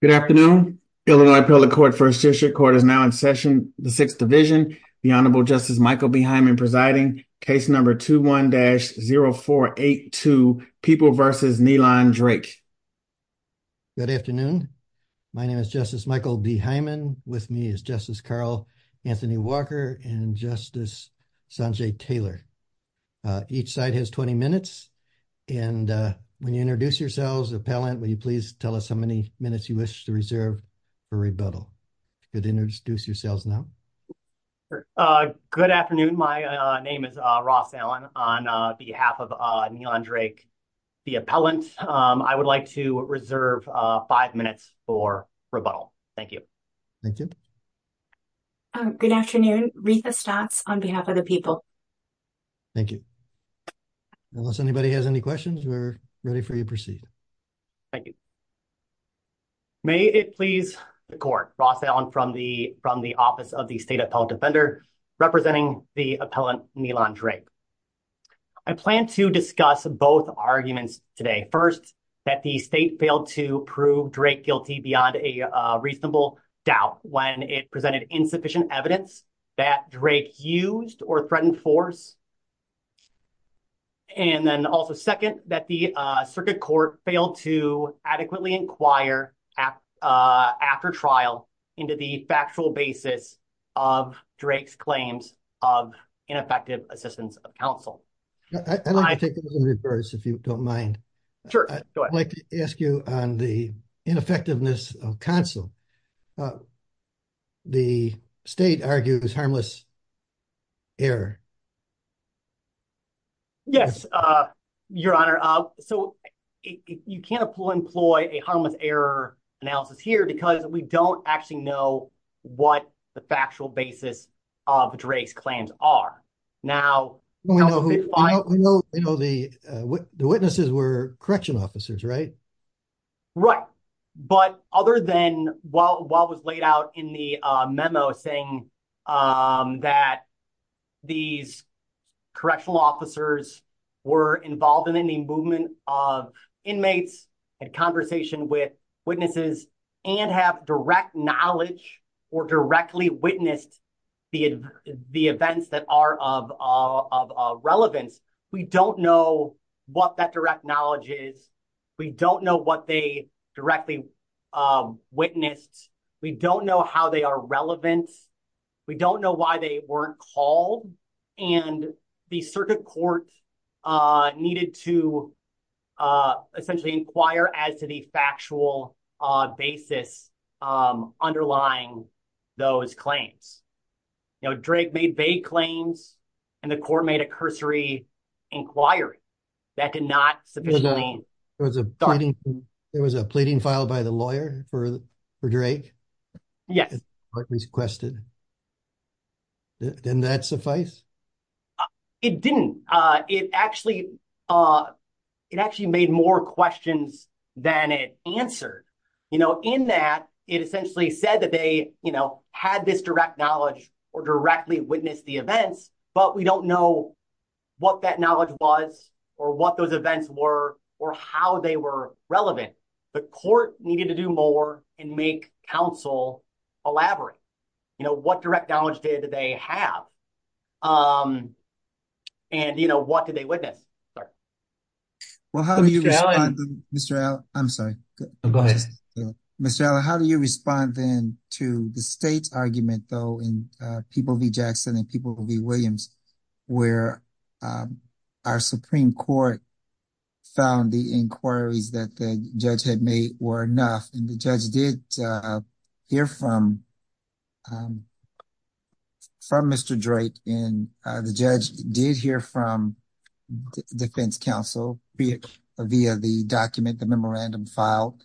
Good afternoon. Illinois Appellate Court First District Court is now in session. The Sixth Division, the Honorable Justice Michael B. Hyman presiding. Case number 21-0482, People v. Nilan Drake. Good afternoon. My name is Justice Michael B. Hyman. With me is Justice Carl Anthony Walker and Justice Sanjay Taylor. Each side has 20 minutes. And when you introduce yourselves, appellant, will you please tell us how many minutes you wish to reserve for rebuttal? You can introduce yourselves now. Ross Allen Good afternoon. My name is Ross Allen. On behalf of Nilan Drake, the appellant, I would like to reserve five minutes for rebuttal. Thank you. Justice Michael B. Hyman Thank you. Reetha Stotts Good afternoon. Reetha Stotts on behalf of the people. Thank you. Unless anybody has any questions, we're ready for you to proceed. Ross Allen Thank you. May it please the court. Ross Allen from the Office of the State Appellate Defender representing the appellant, Nilan Drake. I plan to discuss both arguments today. First, that the state failed to prove Drake guilty beyond a reasonable doubt when it presented insufficient evidence that Drake used or threatened force. And then also second, that the circuit court failed to adequately inquire after trial into the factual basis of Drake's claims of ineffective assistance of counsel. I'd like to take it in reverse if you don't mind. I'd like to ask you on the ineffectiveness of counsel. The state argues harmless error. Reetha Stotts Yes, Your Honor. So you can't employ a harmless error analysis here because we don't actually know what the factual basis of Drake's claims are. Now, we know the witnesses were correctional officers, right? Ross Allen Right. But other than what was laid out in the memo saying that these correctional officers were involved in any movement of inmates and conversation with of relevance, we don't know what that direct knowledge is. We don't know what they directly witnessed. We don't know how they are relevant. We don't know why they weren't called. And the circuit court needed to essentially inquire as to the factual basis underlying those claims. You know, Drake made vague claims and the court made a cursory inquiry that did not sufficiently. Reetha Stotts There was a pleading filed by the lawyer for Drake? Reetha Stotts The court requested. Didn't that suffice? Ross Allen It didn't. It actually made more questions than it answered. You know, in that, it essentially said that they, you know, had this direct knowledge or directly witnessed the events, but we don't know what that knowledge was or what those events were or how they were relevant. The court needed to do more and make counsel elaborate. You know, what direct knowledge did they have? And, you know, what did they witness? Reetha Stotts Well, how do you respond, Mr. Allen? I'm sorry. Mr. Allen, how do you respond then to the state's argument, though, in People v. Jackson and People v. Williams, where our Supreme Court found the inquiries that the judge had made were enough, and the judge did hear from Mr. Drake, and the judge did hear from the defense counsel via the document, the memorandum filed.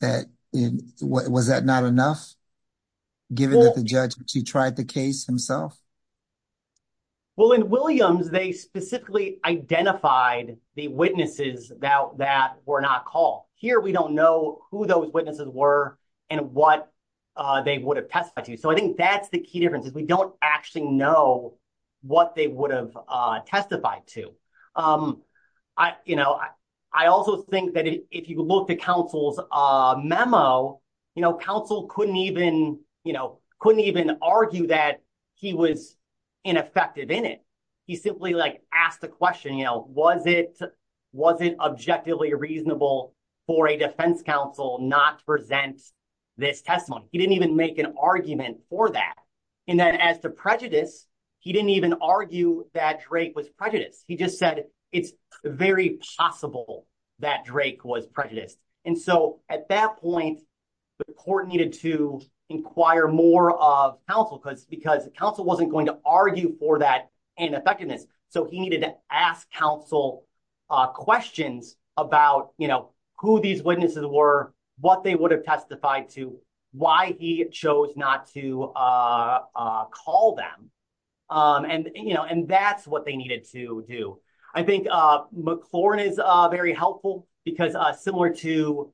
Was that not enough, given that the judge tried the case himself? Ross Allen Well, in Williams, they specifically identified the witnesses that were not called. Here, we don't know who those witnesses were and what they would have testified to. So I think that's the key difference, is we don't actually know what they would have testified to. You know, I also think that if you look at counsel's memo, you know, counsel couldn't even, you know, couldn't even argue that he was ineffective in it. He simply, like, asked the question, you know, was it objectively reasonable for a defense counsel not to present this testimony? He didn't even make an argument for that. And then as to prejudice, he didn't even argue that Drake was prejudiced. He just said, it's very possible that Drake was prejudiced. And so at that point, the court needed to inquire more of counsel, because counsel wasn't going to argue for that ineffectiveness. So he needed to ask counsel questions about, you know, who these witnesses were, what they would have testified to, why he chose not to call them. And, you know, and that's what they needed to do. I think McLaurin is very helpful, because similar to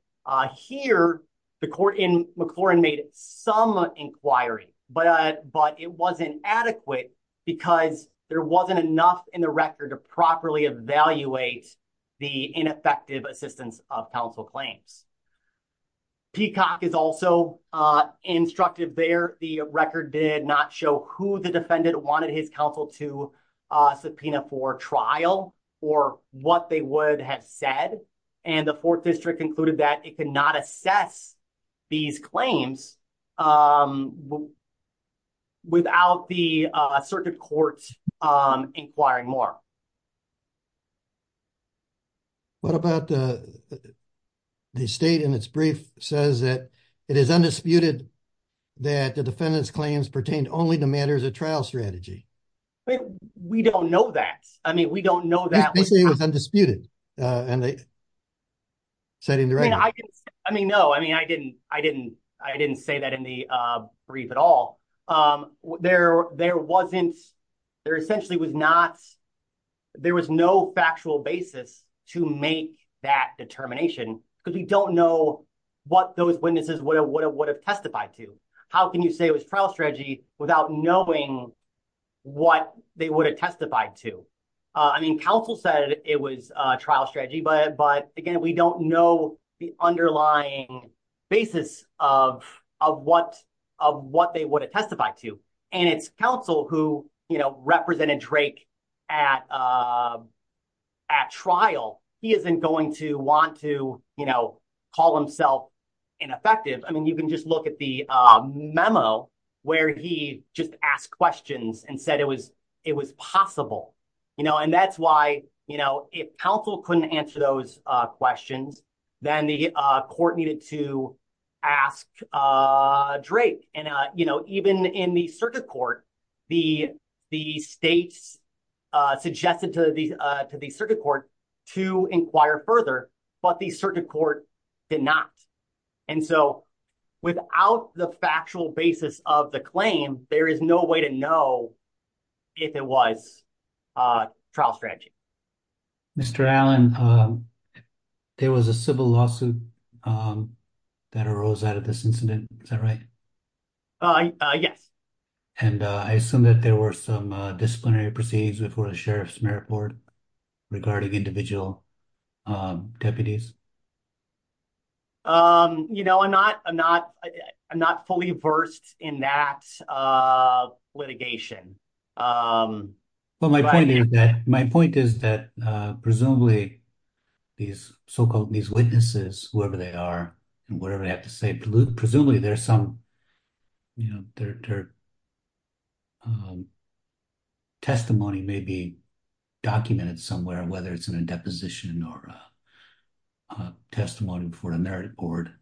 here, the court in adequate, because there wasn't enough in the record to properly evaluate the ineffective assistance of counsel claims. Peacock is also instructed there, the record did not show who the defendant wanted his counsel to subpoena for trial, or what they would have said. And the circuit court inquiring more. What about the state in its brief says that it is undisputed that the defendant's claims pertain only to matters of trial strategy? We don't know that. I mean, we don't know that. They say it was undisputed. And they said in the right way. I mean, no, I mean, I didn't, I didn't, I didn't say that in the brief at all. There wasn't, there essentially was not, there was no factual basis to make that determination, because we don't know what those witnesses would have testified to. How can you say it was trial strategy without knowing what they would have testified to? I mean, counsel said it was trial strategy. But again, we don't know the underlying basis of, of what, of what they would have testified to. And it's counsel who, you know, represented Drake at, at trial, he isn't going to want to, you know, call himself ineffective. I mean, you can just look at the memo, where he just asked questions and said it was, it was possible. You know, and that's why, you know, if counsel couldn't answer those questions, then the court needed to ask Drake. And, you know, even in the circuit court, the, the states suggested to the, to the circuit court to inquire further, but the circuit court did not. And so without the factual basis of the claim, there is no way to know if it was trial strategy. Mr. Allen, there was a civil lawsuit that arose out of this incident. Is that right? Yes. And I assume that there were some disciplinary proceedings before the Sheriff's Merit Board regarding individual deputies. You know, I'm not, I'm not, I'm not fully versed in that litigation. But my point is that, my point is that presumably these so-called, these witnesses, whoever they are and whatever they have to say, presumably there's some, you know, their testimony may be documented somewhere, whether it's in a deposition or testimony before the Merit Board.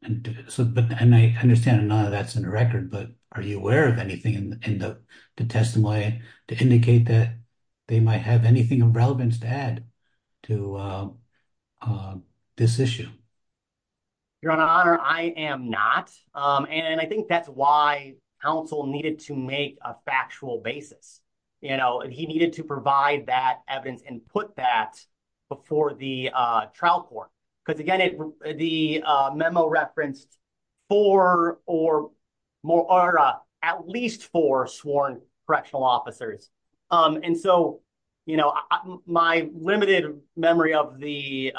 And so, and I understand none of that's in the record, but are you aware of anything in the testimony to indicate that they might have anything of relevance to add to this issue? Your Honor, I am not. And I think that's why counsel needed to make a factual basis. You know, he needed to provide that evidence and put that before the trial court. Because again, the memo referenced four or more, or at least four sworn correctional officers. And so, you know, my limited memory of the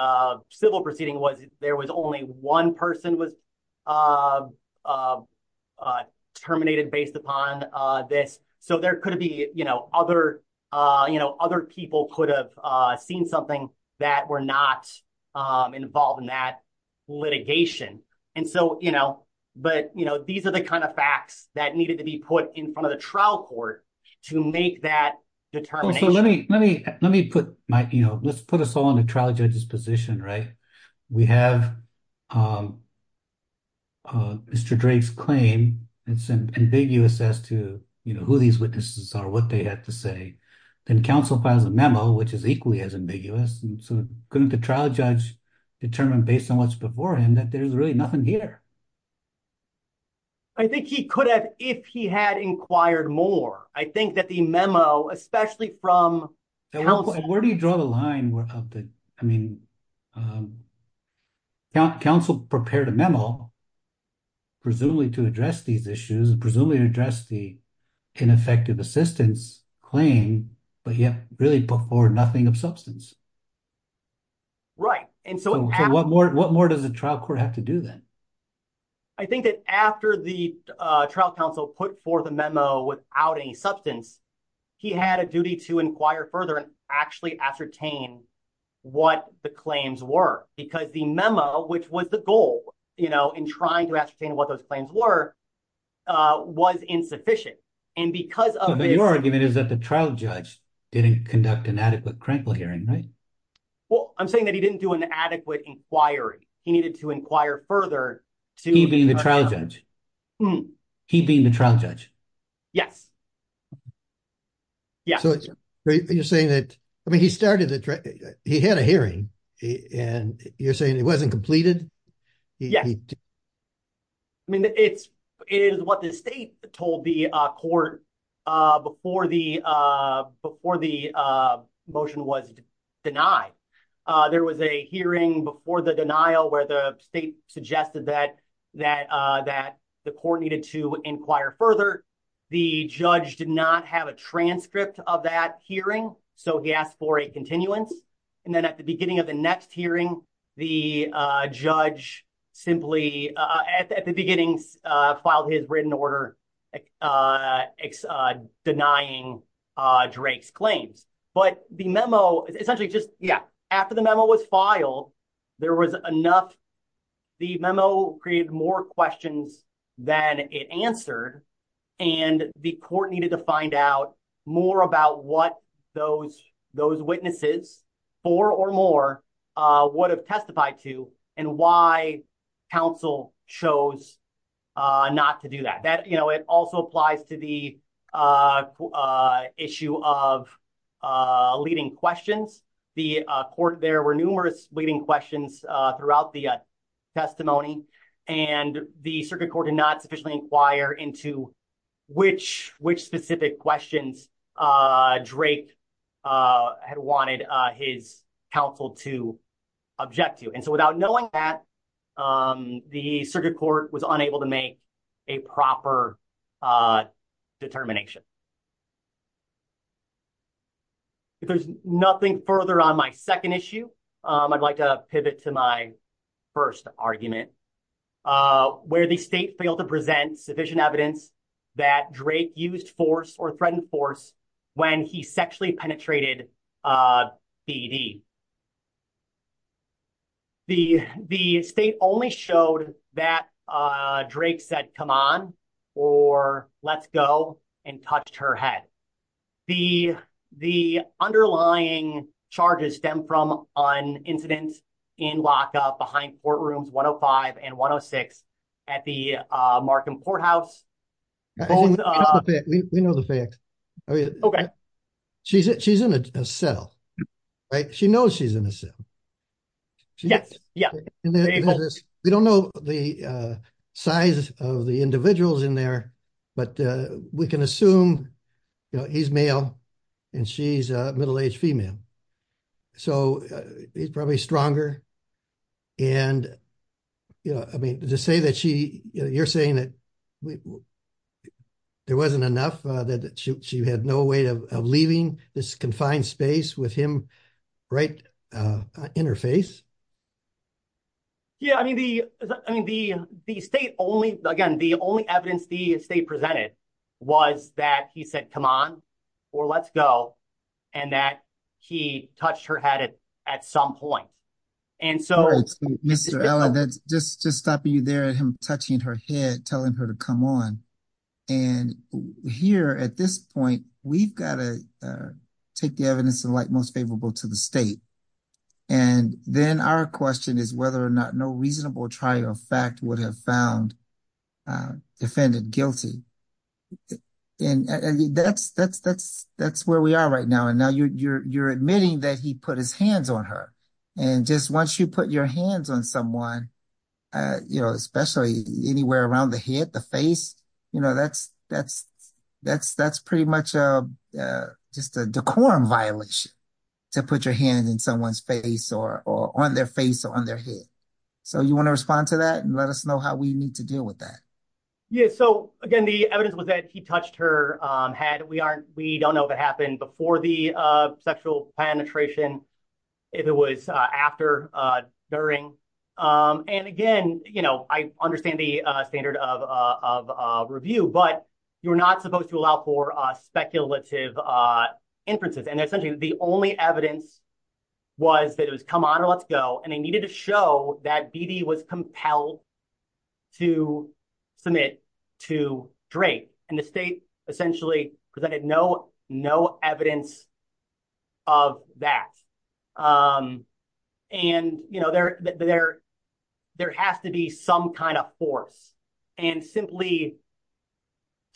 civil proceeding was there was only one person was terminated based upon this. So there could be, you know, other, you know, something that were not involved in that litigation. And so, you know, but, you know, these are the kind of facts that needed to be put in front of the trial court to make that determination. Let me put my, you know, let's put us all in a trial judge's position, right? We have Mr. Drake's claim. It's ambiguous as to, you know, who these witnesses are, what they had to say. Then counsel files a memo, which is equally as ambiguous. And so couldn't the trial judge determine based on what's before him that there's really nothing here? I think he could have if he had inquired more. I think that the memo, especially from counsel. Where do you draw the line of the, I mean, counsel prepared a memo, presumably to address these issues and presumably address the ineffective assistance claim, but yet really put forward nothing of substance. Right. And so what more, what more does the trial court have to do then? I think that after the trial counsel put forth a memo without any substance, he had a duty to inquire further and actually ascertain what the claims were because the memo, which was the goal, you know, in trying to ascertain what those claims were, was insufficient. And because of- But your argument is that the trial judge didn't conduct an adequate crankle hearing, right? Well, I'm saying that he didn't do an adequate inquiry. He needed to inquire further to- He being the trial judge? He being the trial judge? Yes. Yeah. So you're saying that, I mean, he started the, he had a hearing and you're saying it wasn't completed? Yeah. I mean, it is what the state told the court before the motion was denied. There was a hearing before the denial where the state suggested that the court needed to inquire further. The judge did not have a transcript of that hearing. So he asked for continuance. And then at the beginning of the next hearing, the judge simply, at the beginning, filed his written order denying Drake's claims. But the memo, essentially just, yeah, after the memo was filed, there was enough, the memo created more questions than it answered. And the court needed to find out more about what those witnesses, four or more, would have testified to and why counsel chose not to do that. That, you know, it also applies to the issue of leading questions. The court, there were numerous leading questions throughout the which specific questions Drake had wanted his counsel to object to. And so without knowing that, the circuit court was unable to make a proper determination. If there's nothing further on my second issue, I'd like to pivot to my first argument. Where the state failed to present sufficient evidence that Drake used force or threatened force when he sexually penetrated BD. The state only showed that Drake said, come on, or let's go and touched her head. The underlying charges stem from an incident in lockup behind courtrooms 105 and 106 at the Markham courthouse. We know the facts. Okay. She's in a cell, right? She knows she's in a cell. Yes. Yeah. We don't know the size of the individuals in there, but we can assume he's male and she's a middle-aged female. So he's probably stronger. And, you know, I mean, to say that she, you're saying that there wasn't enough, that she had no way of leaving this confined space with him right in her face. Yeah. I mean, the state only, again, the only evidence the state presented was that he said, come on, or let's go. And that he touched her head at some point. And so Mr. Allen, that's just, just stopping you there at him touching her head, telling her to come on. And here at this point, we've got to take the evidence and like most favorable to the state. And then our question is whether or not no reasonable trial of fact would have found defendant guilty. And that's where we are right now. And now you're admitting that he put his hands on her. And just once you put your hands on someone, you know, especially anywhere around the head, the face, you know, that's pretty much just a decorum violation to put your hand in someone's face or on their face or on their head. So you want to respond to that and let us know how we need to deal with that. Yeah. So again, the evidence was that he touched her head. We aren't, we don't know if it happened before the sexual penetration, if it was after, during. And again, you know, I understand the standard of review, but you're not supposed to allow for speculative inferences. And essentially the only evidence was that it was come on and let's go. And they needed to show that BD was compelled to submit to Drake and the state essentially presented no evidence of that. And, you know, there has to be some kind of force and simply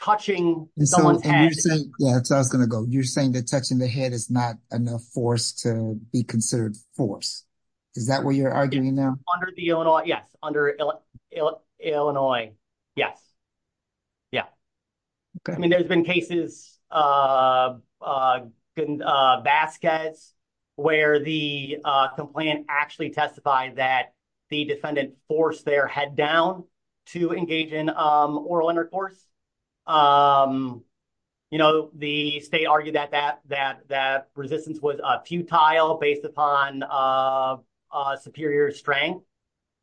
touching someone's head. Yeah. So I was going to go, you're saying that touching the head is not enough force to be considered force. Is that what you're arguing now? Under the Illinois? Yes. Under Illinois. Yes. Yeah. I mean, there's been cases, baskets where the complaint actually testified that the defendant forced their head down to engage in oral intercourse. You know, the state argued that resistance was futile based upon superior strength,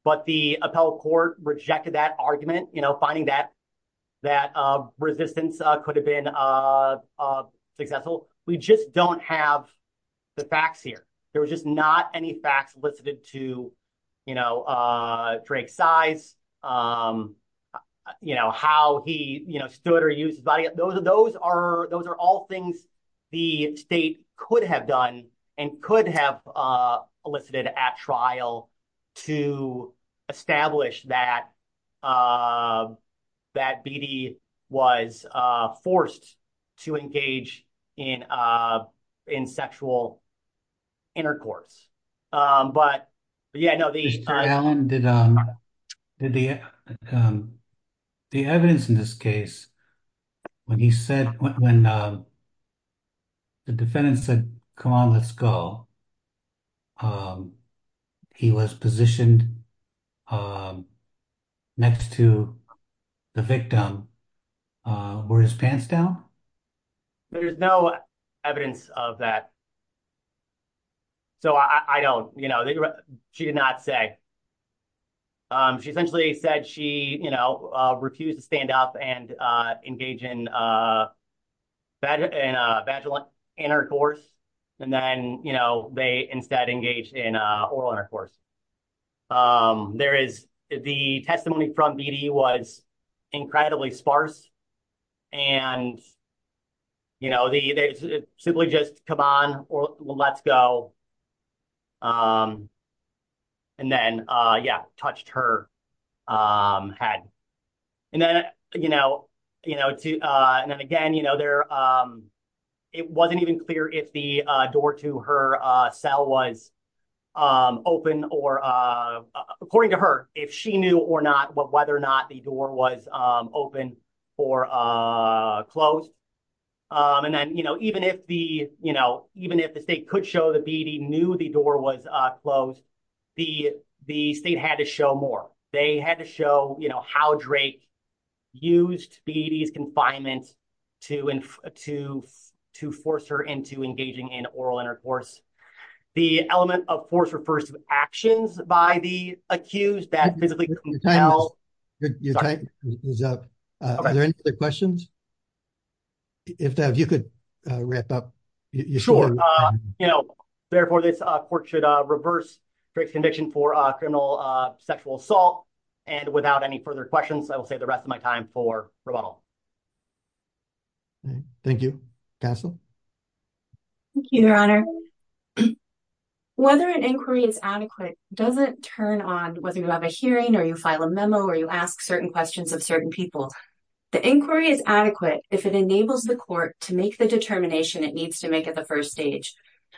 but the appellate court rejected that argument, finding that resistance could have been successful. We just don't have the facts here. There was just not any facts listed to, you know, Drake's size, you know, how he stood or used his body. Those are all things the state could have done and could have elicited at trial to establish that BD was forced to engage in sexual intercourse. But yeah, no, the- Mr. Allen, did the evidence in this case, when he said, when the defendant said, come on, let's go, he was positioned next to the victim, wore his pants down? There's no evidence of that. So I don't, you know, she did not say. She essentially said she, you know, refused to stand up and engage in vaginal intercourse. And then, you know, they instead engaged in there is the testimony from BD was incredibly sparse. And, you know, they simply just come on, or let's go. And then, yeah, touched her head. And then, you know, you know, and then again, there, it wasn't even clear if the door to her cell was open or, according to her, if she knew or not, whether or not the door was open or closed. And then, you know, even if the, you know, even if the state could show that BD knew the door was closed, the state had to show more. They had to show, you know, how Drake used BD's confinement to force her into engaging in oral intercourse. The element of force refers to actions by the accused that physically compel. Is there any other questions? If you could wrap up. Sure. You know, therefore, this court should reverse Drake's conviction for criminal sexual assault. And without any further questions, I will save the rest of my time for rebuttal. Thank you, Castle. Thank you, Your Honor. Whether an inquiry is adequate doesn't turn on whether you have a hearing or you file a memo, or you ask certain questions of certain people. The inquiry is adequate if it enables the court to make the determination it needs to make at the first stage,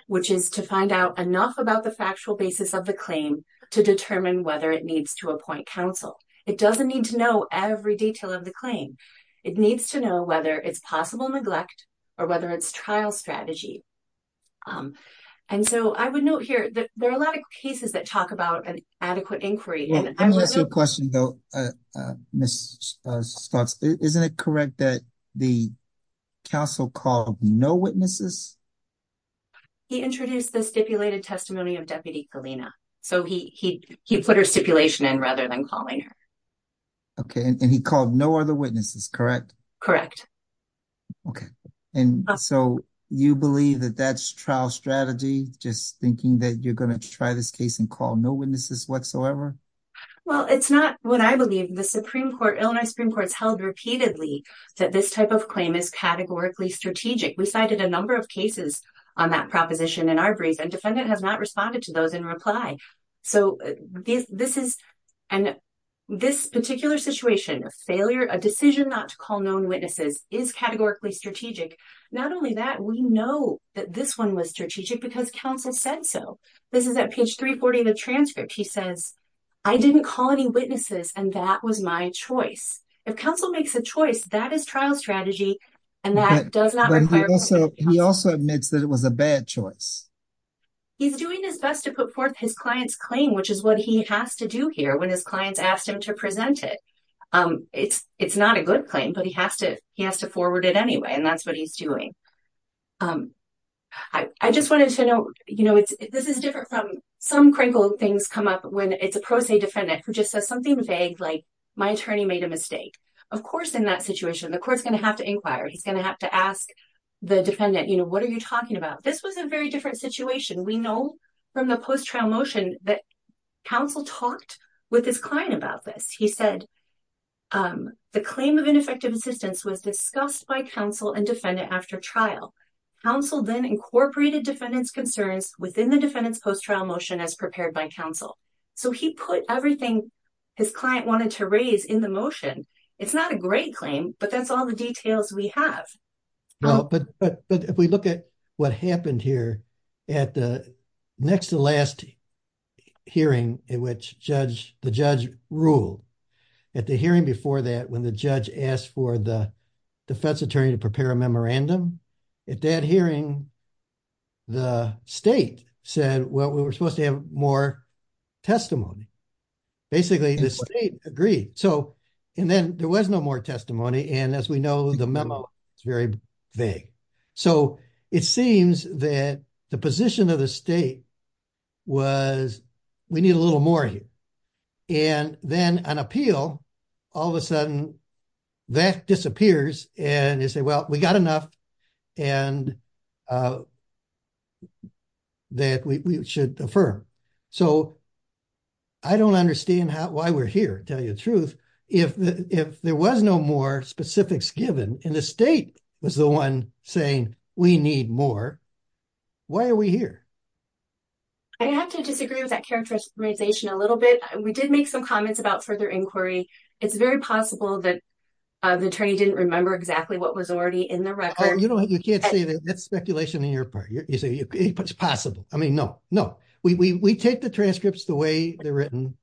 which is to find out enough about the factual basis of the claim to determine whether it needs to appoint counsel. It doesn't need to know every detail of the claim. It needs to know whether it's possible neglect or whether it's trial strategy. And so, I would note here that there are a lot of cases that talk about an adequate inquiry. Let me ask you a question, though, Ms. Stutz. Isn't it correct that the counsel called no witnesses? He introduced the stipulated testimony of Deputy Galena. So, he put her stipulation in rather than calling her. Okay. And he called no other witnesses, correct? Correct. Okay. And so, you believe that that's trial strategy, just thinking that you're going to try this case and call no witnesses whatsoever? Well, it's not what I believe. The we cited a number of cases on that proposition in our brief, and defendant has not responded to those in reply. So, this particular situation, a failure, a decision not to call known witnesses is categorically strategic. Not only that, we know that this one was strategic because counsel said so. This is at page 340 of the transcript. He says, I didn't call any witnesses, and that was my choice. If counsel makes a choice, that is trial strategy, and that does not require... He also admits that it was a bad choice. He's doing his best to put forth his client's claim, which is what he has to do here when his clients asked him to present it. It's not a good claim, but he has to forward it anyway, and that's what he's doing. I just wanted to know, this is different from some crinkled things come up when it's a pro se defendant who just says like, my attorney made a mistake. Of course, in that situation, the court's going to have to inquire. He's going to have to ask the defendant, what are you talking about? This was a very different situation. We know from the post-trial motion that counsel talked with his client about this. He said, the claim of ineffective assistance was discussed by counsel and defendant after trial. Counsel then incorporated defendant's concerns within the defendant's post-trial motion as his client wanted to raise in the motion. It's not a great claim, but that's all the details we have. But if we look at what happened here at the next to last hearing in which the judge ruled, at the hearing before that, when the judge asked for the defense attorney to prepare a memorandum, at that hearing, the state said, well, we're supposed to have more testimony. Basically, the state agreed. And then there was no more testimony. And as we know, the memo, it's very vague. So it seems that the position of the state was, we need a little more here. And then on appeal, all of a sudden, that disappears. And you say, well, we got enough that we should affirm. So, I don't understand why we're here, to tell you the truth. If there was no more specifics given, and the state was the one saying, we need more, why are we here? I have to disagree with that characterization a little bit. We did make some comments about their inquiry. It's very possible that the attorney didn't remember exactly what was already in the record. Oh, you can't say that. That's speculation on your part. You say it's possible. I mean, no, no. We take the transcripts the way they're written.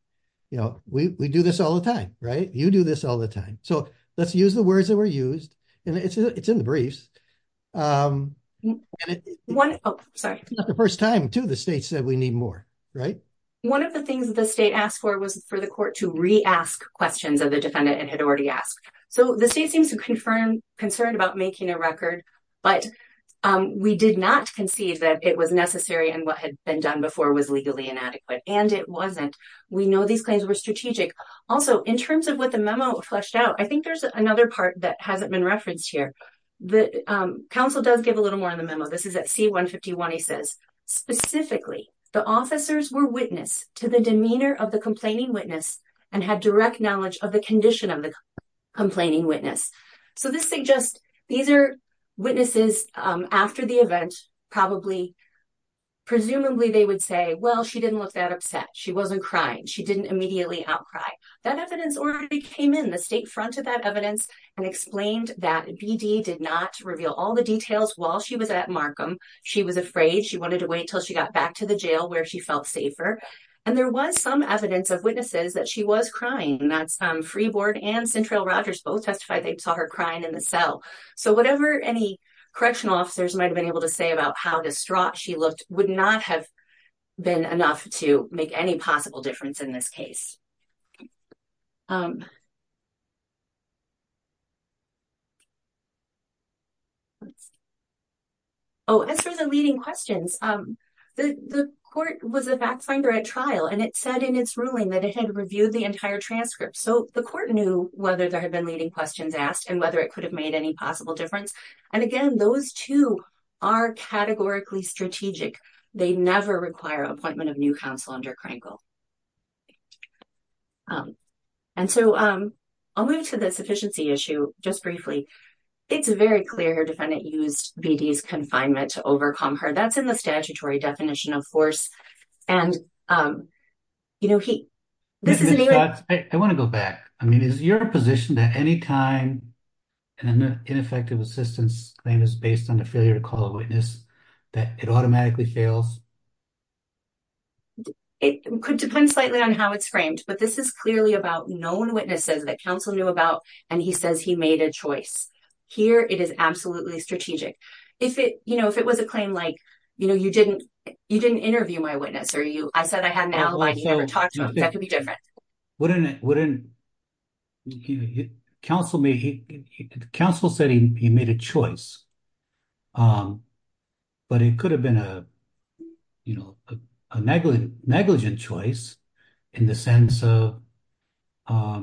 We do this all the time, right? You do this all the time. So let's use the words that were used. And it's in the briefs. Not the first time, too, the state said we need more, right? One of the things the state asked for was for the court to re-ask questions of the defendant it had already asked. So the state seems to confirm concern about making a record, but we did not concede that it was necessary and what had been done before was legally inadequate. And it wasn't. We know these claims were strategic. Also, in terms of what the memo fleshed out, I think there's another part that hasn't been referenced here. The counsel does give a little more in the memo. This is at C-151. He says, specifically, the officers were witness to the demeanor of the complaining witness and had direct knowledge of the condition of the complaining witness. So this suggests these are witnesses after the event. Presumably, they would say, well, she didn't look that upset. She wasn't crying. She didn't immediately outcry. That evidence already came in the state front of that evidence and explained that BD did not reveal all the details while she was at Markham. She was afraid. She wanted to wait until she got back to the jail where she felt safer. And there was some evidence of witnesses that she was crying. That's Freeboard and Central Rogers. Both testified they saw her crying in the cell. So whatever any correctional officers might have been able to say about how distraught she looked would not have been enough to make any possible difference in this case. Oh, as for the leading questions, the court was a fact finder at trial, and it said in its ruling that it had reviewed the entire transcript. So the court knew whether there had been leading questions asked and whether it could have made any possible difference. And again, those two are categorically strategic. They never require appointment of new counsel under Krankel. And so I'll move to the sufficiency issue just briefly. It's very clear her defendant used BD's confinement to overcome her. That's in the statutory definition of force. And, you know, he I want to go back. I mean, is your position that any time an ineffective assistance claim is based on a failure to call a witness, that it automatically fails? It could depend slightly on how it's framed. But this is clearly about known witnesses that counsel knew about. And he says he made a choice here. It is absolutely strategic. If it you know, if it was a claim like, you know, you didn't you didn't interview my witness or you I said I had an alibi. You never talked to him. That could be different. Wouldn't it? Wouldn't he counsel me? Counsel said he made a choice. But it could have been a, you know, a negligent negligent choice in the sense of a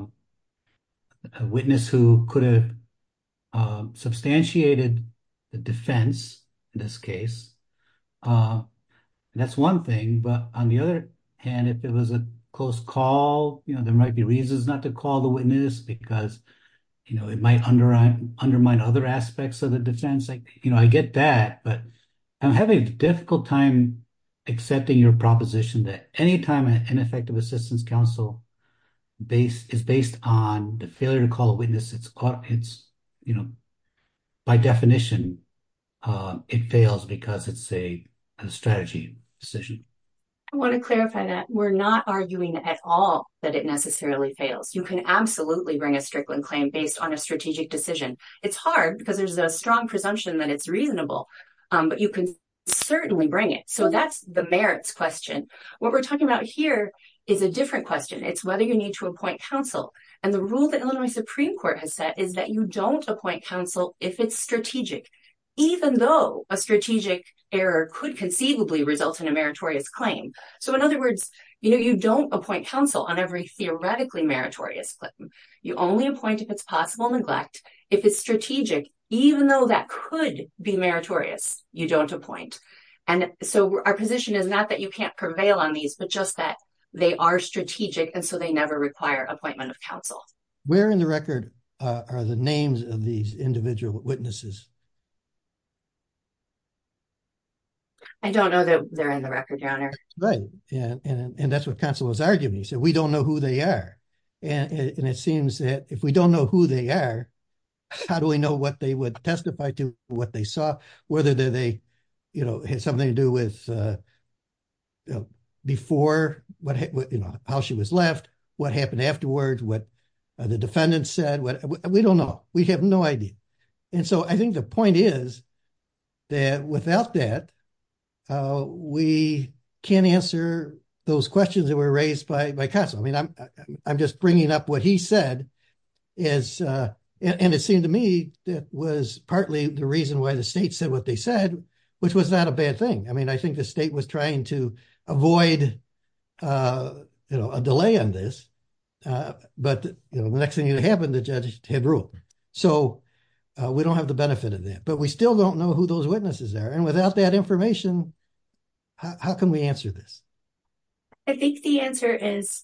witness who could have substantiated the defense in this case. And that's one thing. But on the other hand, if it was a close call, you know, there might be reasons not to call the witness because, you know, it might undermine undermine other aspects of the defense. You know, I get that. But I'm having a difficult time accepting your proposition that any time an ineffective assistance counsel base is based on the failure to call a witness, it's, you know, by definition, it fails because it's a strategy decision. I want to clarify that we're not arguing at all that it necessarily fails. You can absolutely bring a Strickland claim based on a strategic decision. It's hard because there's a strong presumption that it's reasonable, but you can certainly bring it. So that's the merits question. What we're talking about here is a different question. It's whether you need to appoint counsel. And the rule that Illinois Supreme Court has said is that you don't appoint counsel if it's strategic, even though a strategic error could conceivably result in a meritorious claim. So in other words, you know, you don't appoint counsel on every theoretically meritorious claim. You only appoint if it's possible neglect. If it's strategic, even though that could be meritorious, you don't appoint. And so our position is not that you can't prevail on these, but just that they are strategic, and so they never require appointment of counsel. Where in the record are the names of these individual witnesses? I don't know that they're in the record, Your Honor. Right. And that's what counsel was arguing. He said, we don't know who they are. And it seems that if we don't know who they are, how do we know what they would testify to, what they saw, whether they, you know, had something to do with before, you know, how she was left, what happened afterwards, what the defendant said, we don't know. We have no idea. And so I think the point is that without that, we can't answer those questions that were raised by counsel. I mean, I'm just bringing up what he said. And it seemed to me that was partly the reason why the state said what they said, which was not a bad thing. I mean, I think the state was trying to avoid, you know, a delay on this. But, you know, the next thing that happened, the judge had ruled. So we don't have the benefit of that. But we still don't know who those witnesses are. And without that information, how can we answer this? I think the answer is,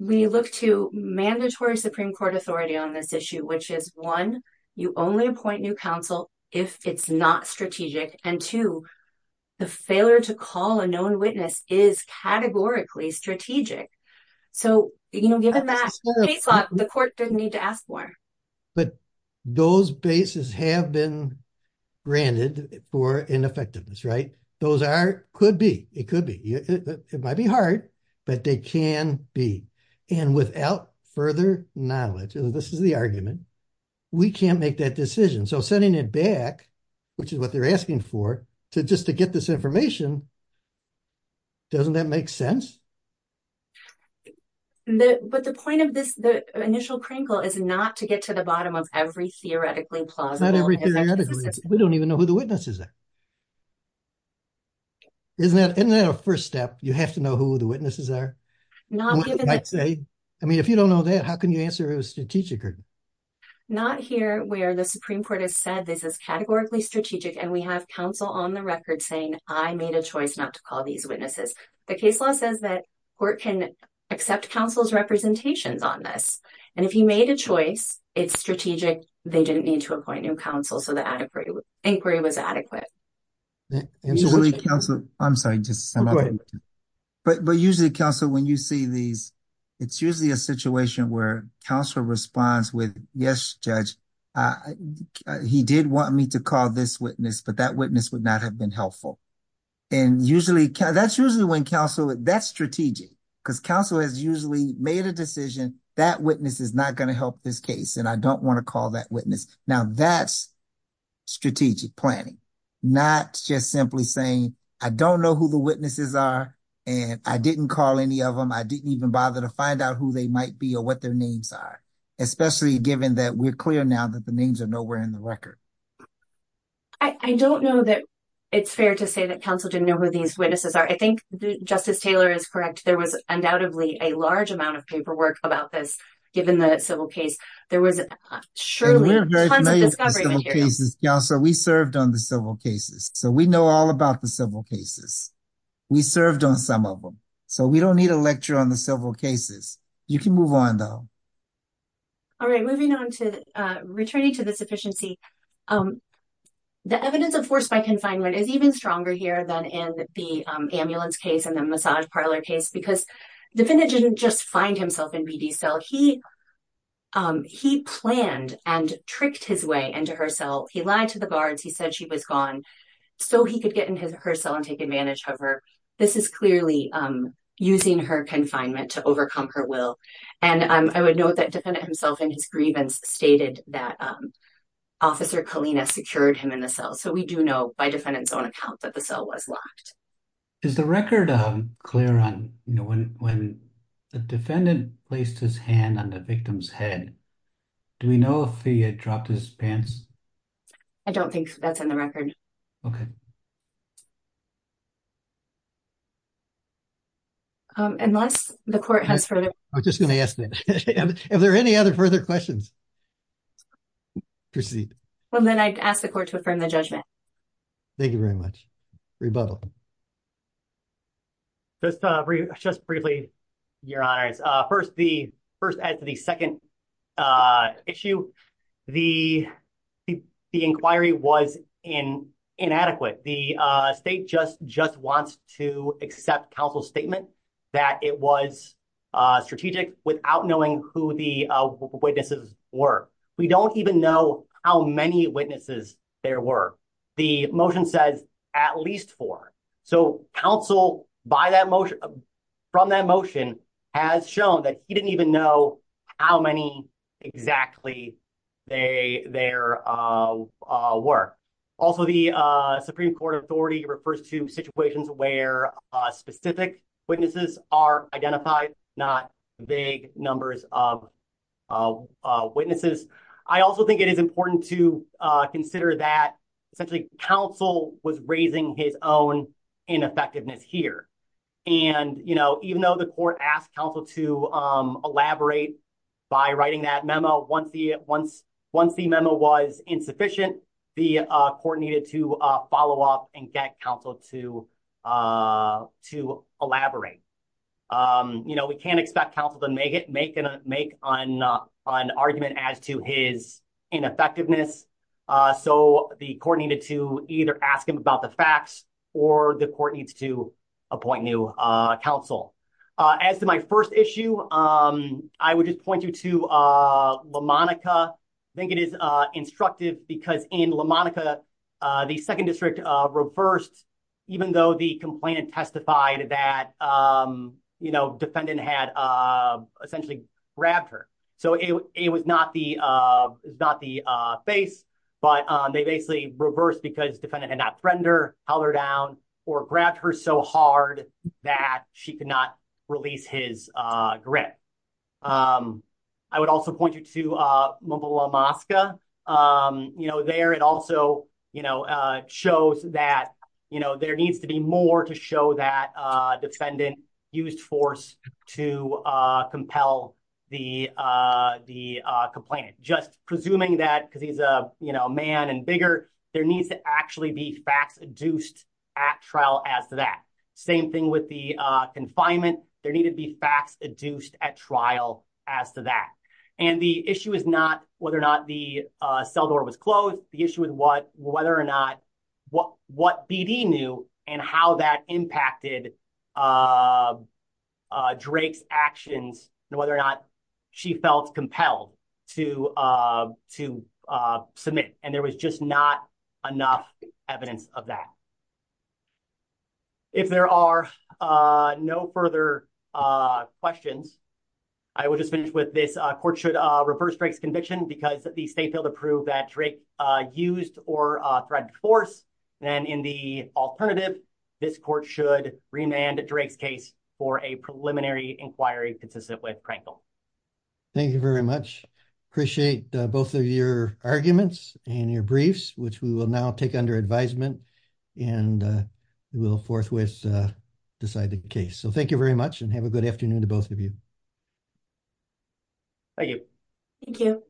we look to mandatory Supreme Court authority on this issue, which is one, you only appoint new counsel if it's not strategic. And two, the failure to call a known witness is categorically strategic. So, you know, given that case law, the court didn't need to ask more. But those bases have been granted for ineffectiveness, right? Those are, could be, it could be, it might be hard, but they can be. And without further knowledge, this is the argument, we can't make that decision. So sending it back, which is what they're asking for, to just to get this information, doesn't that make sense? But the point of this, the initial crinkle is not to get to the bottom of every theoretically plausible. We don't even know who the witnesses are. Isn't that a first step? You have to know who the witnesses are? I mean, if you don't know that, how can you answer it was strategic? Not here where the Supreme Court has said this is categorically strategic. And we have counsel on the record saying, I made a choice not to call these witnesses. The case law says that court can accept counsel's representations on this. And if he made a choice, it's strategic, they didn't need to appoint new counsel. So the inquiry was adequate. I'm sorry, but usually counsel, when you see these, it's usually a situation where counsel responds with, yes, judge, he did want me to call this witness, but that witness would not have been helpful. And usually, that's usually when counsel, that's strategic, because counsel has usually made a decision that witness is not going to help this case. And I don't want to call that witness. Now that's strategic planning, not just simply saying, I don't know who the witnesses are. And I didn't call any of them. I didn't even bother to find out who they might be or what their names are, especially given that we're clear now that the names are nowhere in the record. I don't know that it's fair to say that counsel didn't know who these witnesses are. I think Justice Taylor is correct. There was undoubtedly a large amount of paperwork about this, given the civil case. There was surely tons of discovery material. And we're very familiar with the civil cases. Counsel, we served on the civil cases. So we know all about the civil cases. We served on some of them. So we don't need a lecture on the civil cases. You can move on, though. All right, moving on to returning to the sufficiency. The evidence of forced confinement is even stronger here than in the ambulance case and the massage parlor case, because the defendant didn't just find himself in BD's cell. He planned and tricked his way into her cell. He lied to the guards. He said she was gone so he could get in her cell and take advantage of her. This is clearly using her confinement to overcome her will. And I would note that the defendant himself, in his grievance, stated that Officer Kalina secured him in the cell. We do know by defendant's own account that the cell was locked. Is the record clear on when the defendant placed his hand on the victim's head? Do we know if he had dropped his pants? I don't think that's in the record. Unless the court has further... I was just going to ask that. Are there any other further questions? Proceed. Well, then I ask the court to affirm the judgment. Thank you very much. Rebuttal. Just briefly, your honors. First, as the second issue, the inquiry was inadequate. The state just wants to accept counsel's statement that it was strategic without knowing who the witnesses were. We don't even know how many witnesses there were. The motion says at least four. So counsel, from that motion, has shown that he didn't even know how many exactly there were. Also, the Supreme Court authority refers to situations where specific witnesses are identified, not vague numbers of witnesses. I also think it is important to consider that, essentially, counsel was raising his own ineffectiveness here. Even though the court asked counsel to elaborate by writing that memo, once the memo was insufficient, the court needed to follow up and get counsel to elaborate. We can't expect counsel to make an argument as to his ineffectiveness. So the court needed to either ask him about the facts or the court needs to appoint new counsel. As to my first issue, I would just point you to LaMonica. I think it is because in LaMonica, the second district reversed, even though the complainant testified that defendant had essentially grabbed her. So it was not the face, but they basically reversed because defendant had not threatened her, held her down, or grabbed her so hard that she could not release his grip. I would also point you to Mombula, Moscow. There, it also shows that there needs to be more to show that defendant used force to compel the complainant. Just presuming that, because he's a man and bigger, there needs to actually be facts adduced at trial as to that. Same thing with the confinement. There needed to be facts adduced at trial as to that. And the issue is not whether or not the cell door was closed. The issue is whether or not what BD knew and how that impacted Drake's actions and whether or not she felt compelled to submit. And there was just not enough evidence of that. If there are no further questions, I will just finish with this. Court should reverse Drake's conviction because the state failed to prove that Drake used or threatened force. And in the alternative, this court should remand Drake's case for a preliminary inquiry consistent with Prankle. Thank you very much. Appreciate both of your arguments and your briefs, which we will now take under advisement. And we will forthwith decide the case. So thank you very much and have a good afternoon to both of you. Thank you. Thank you.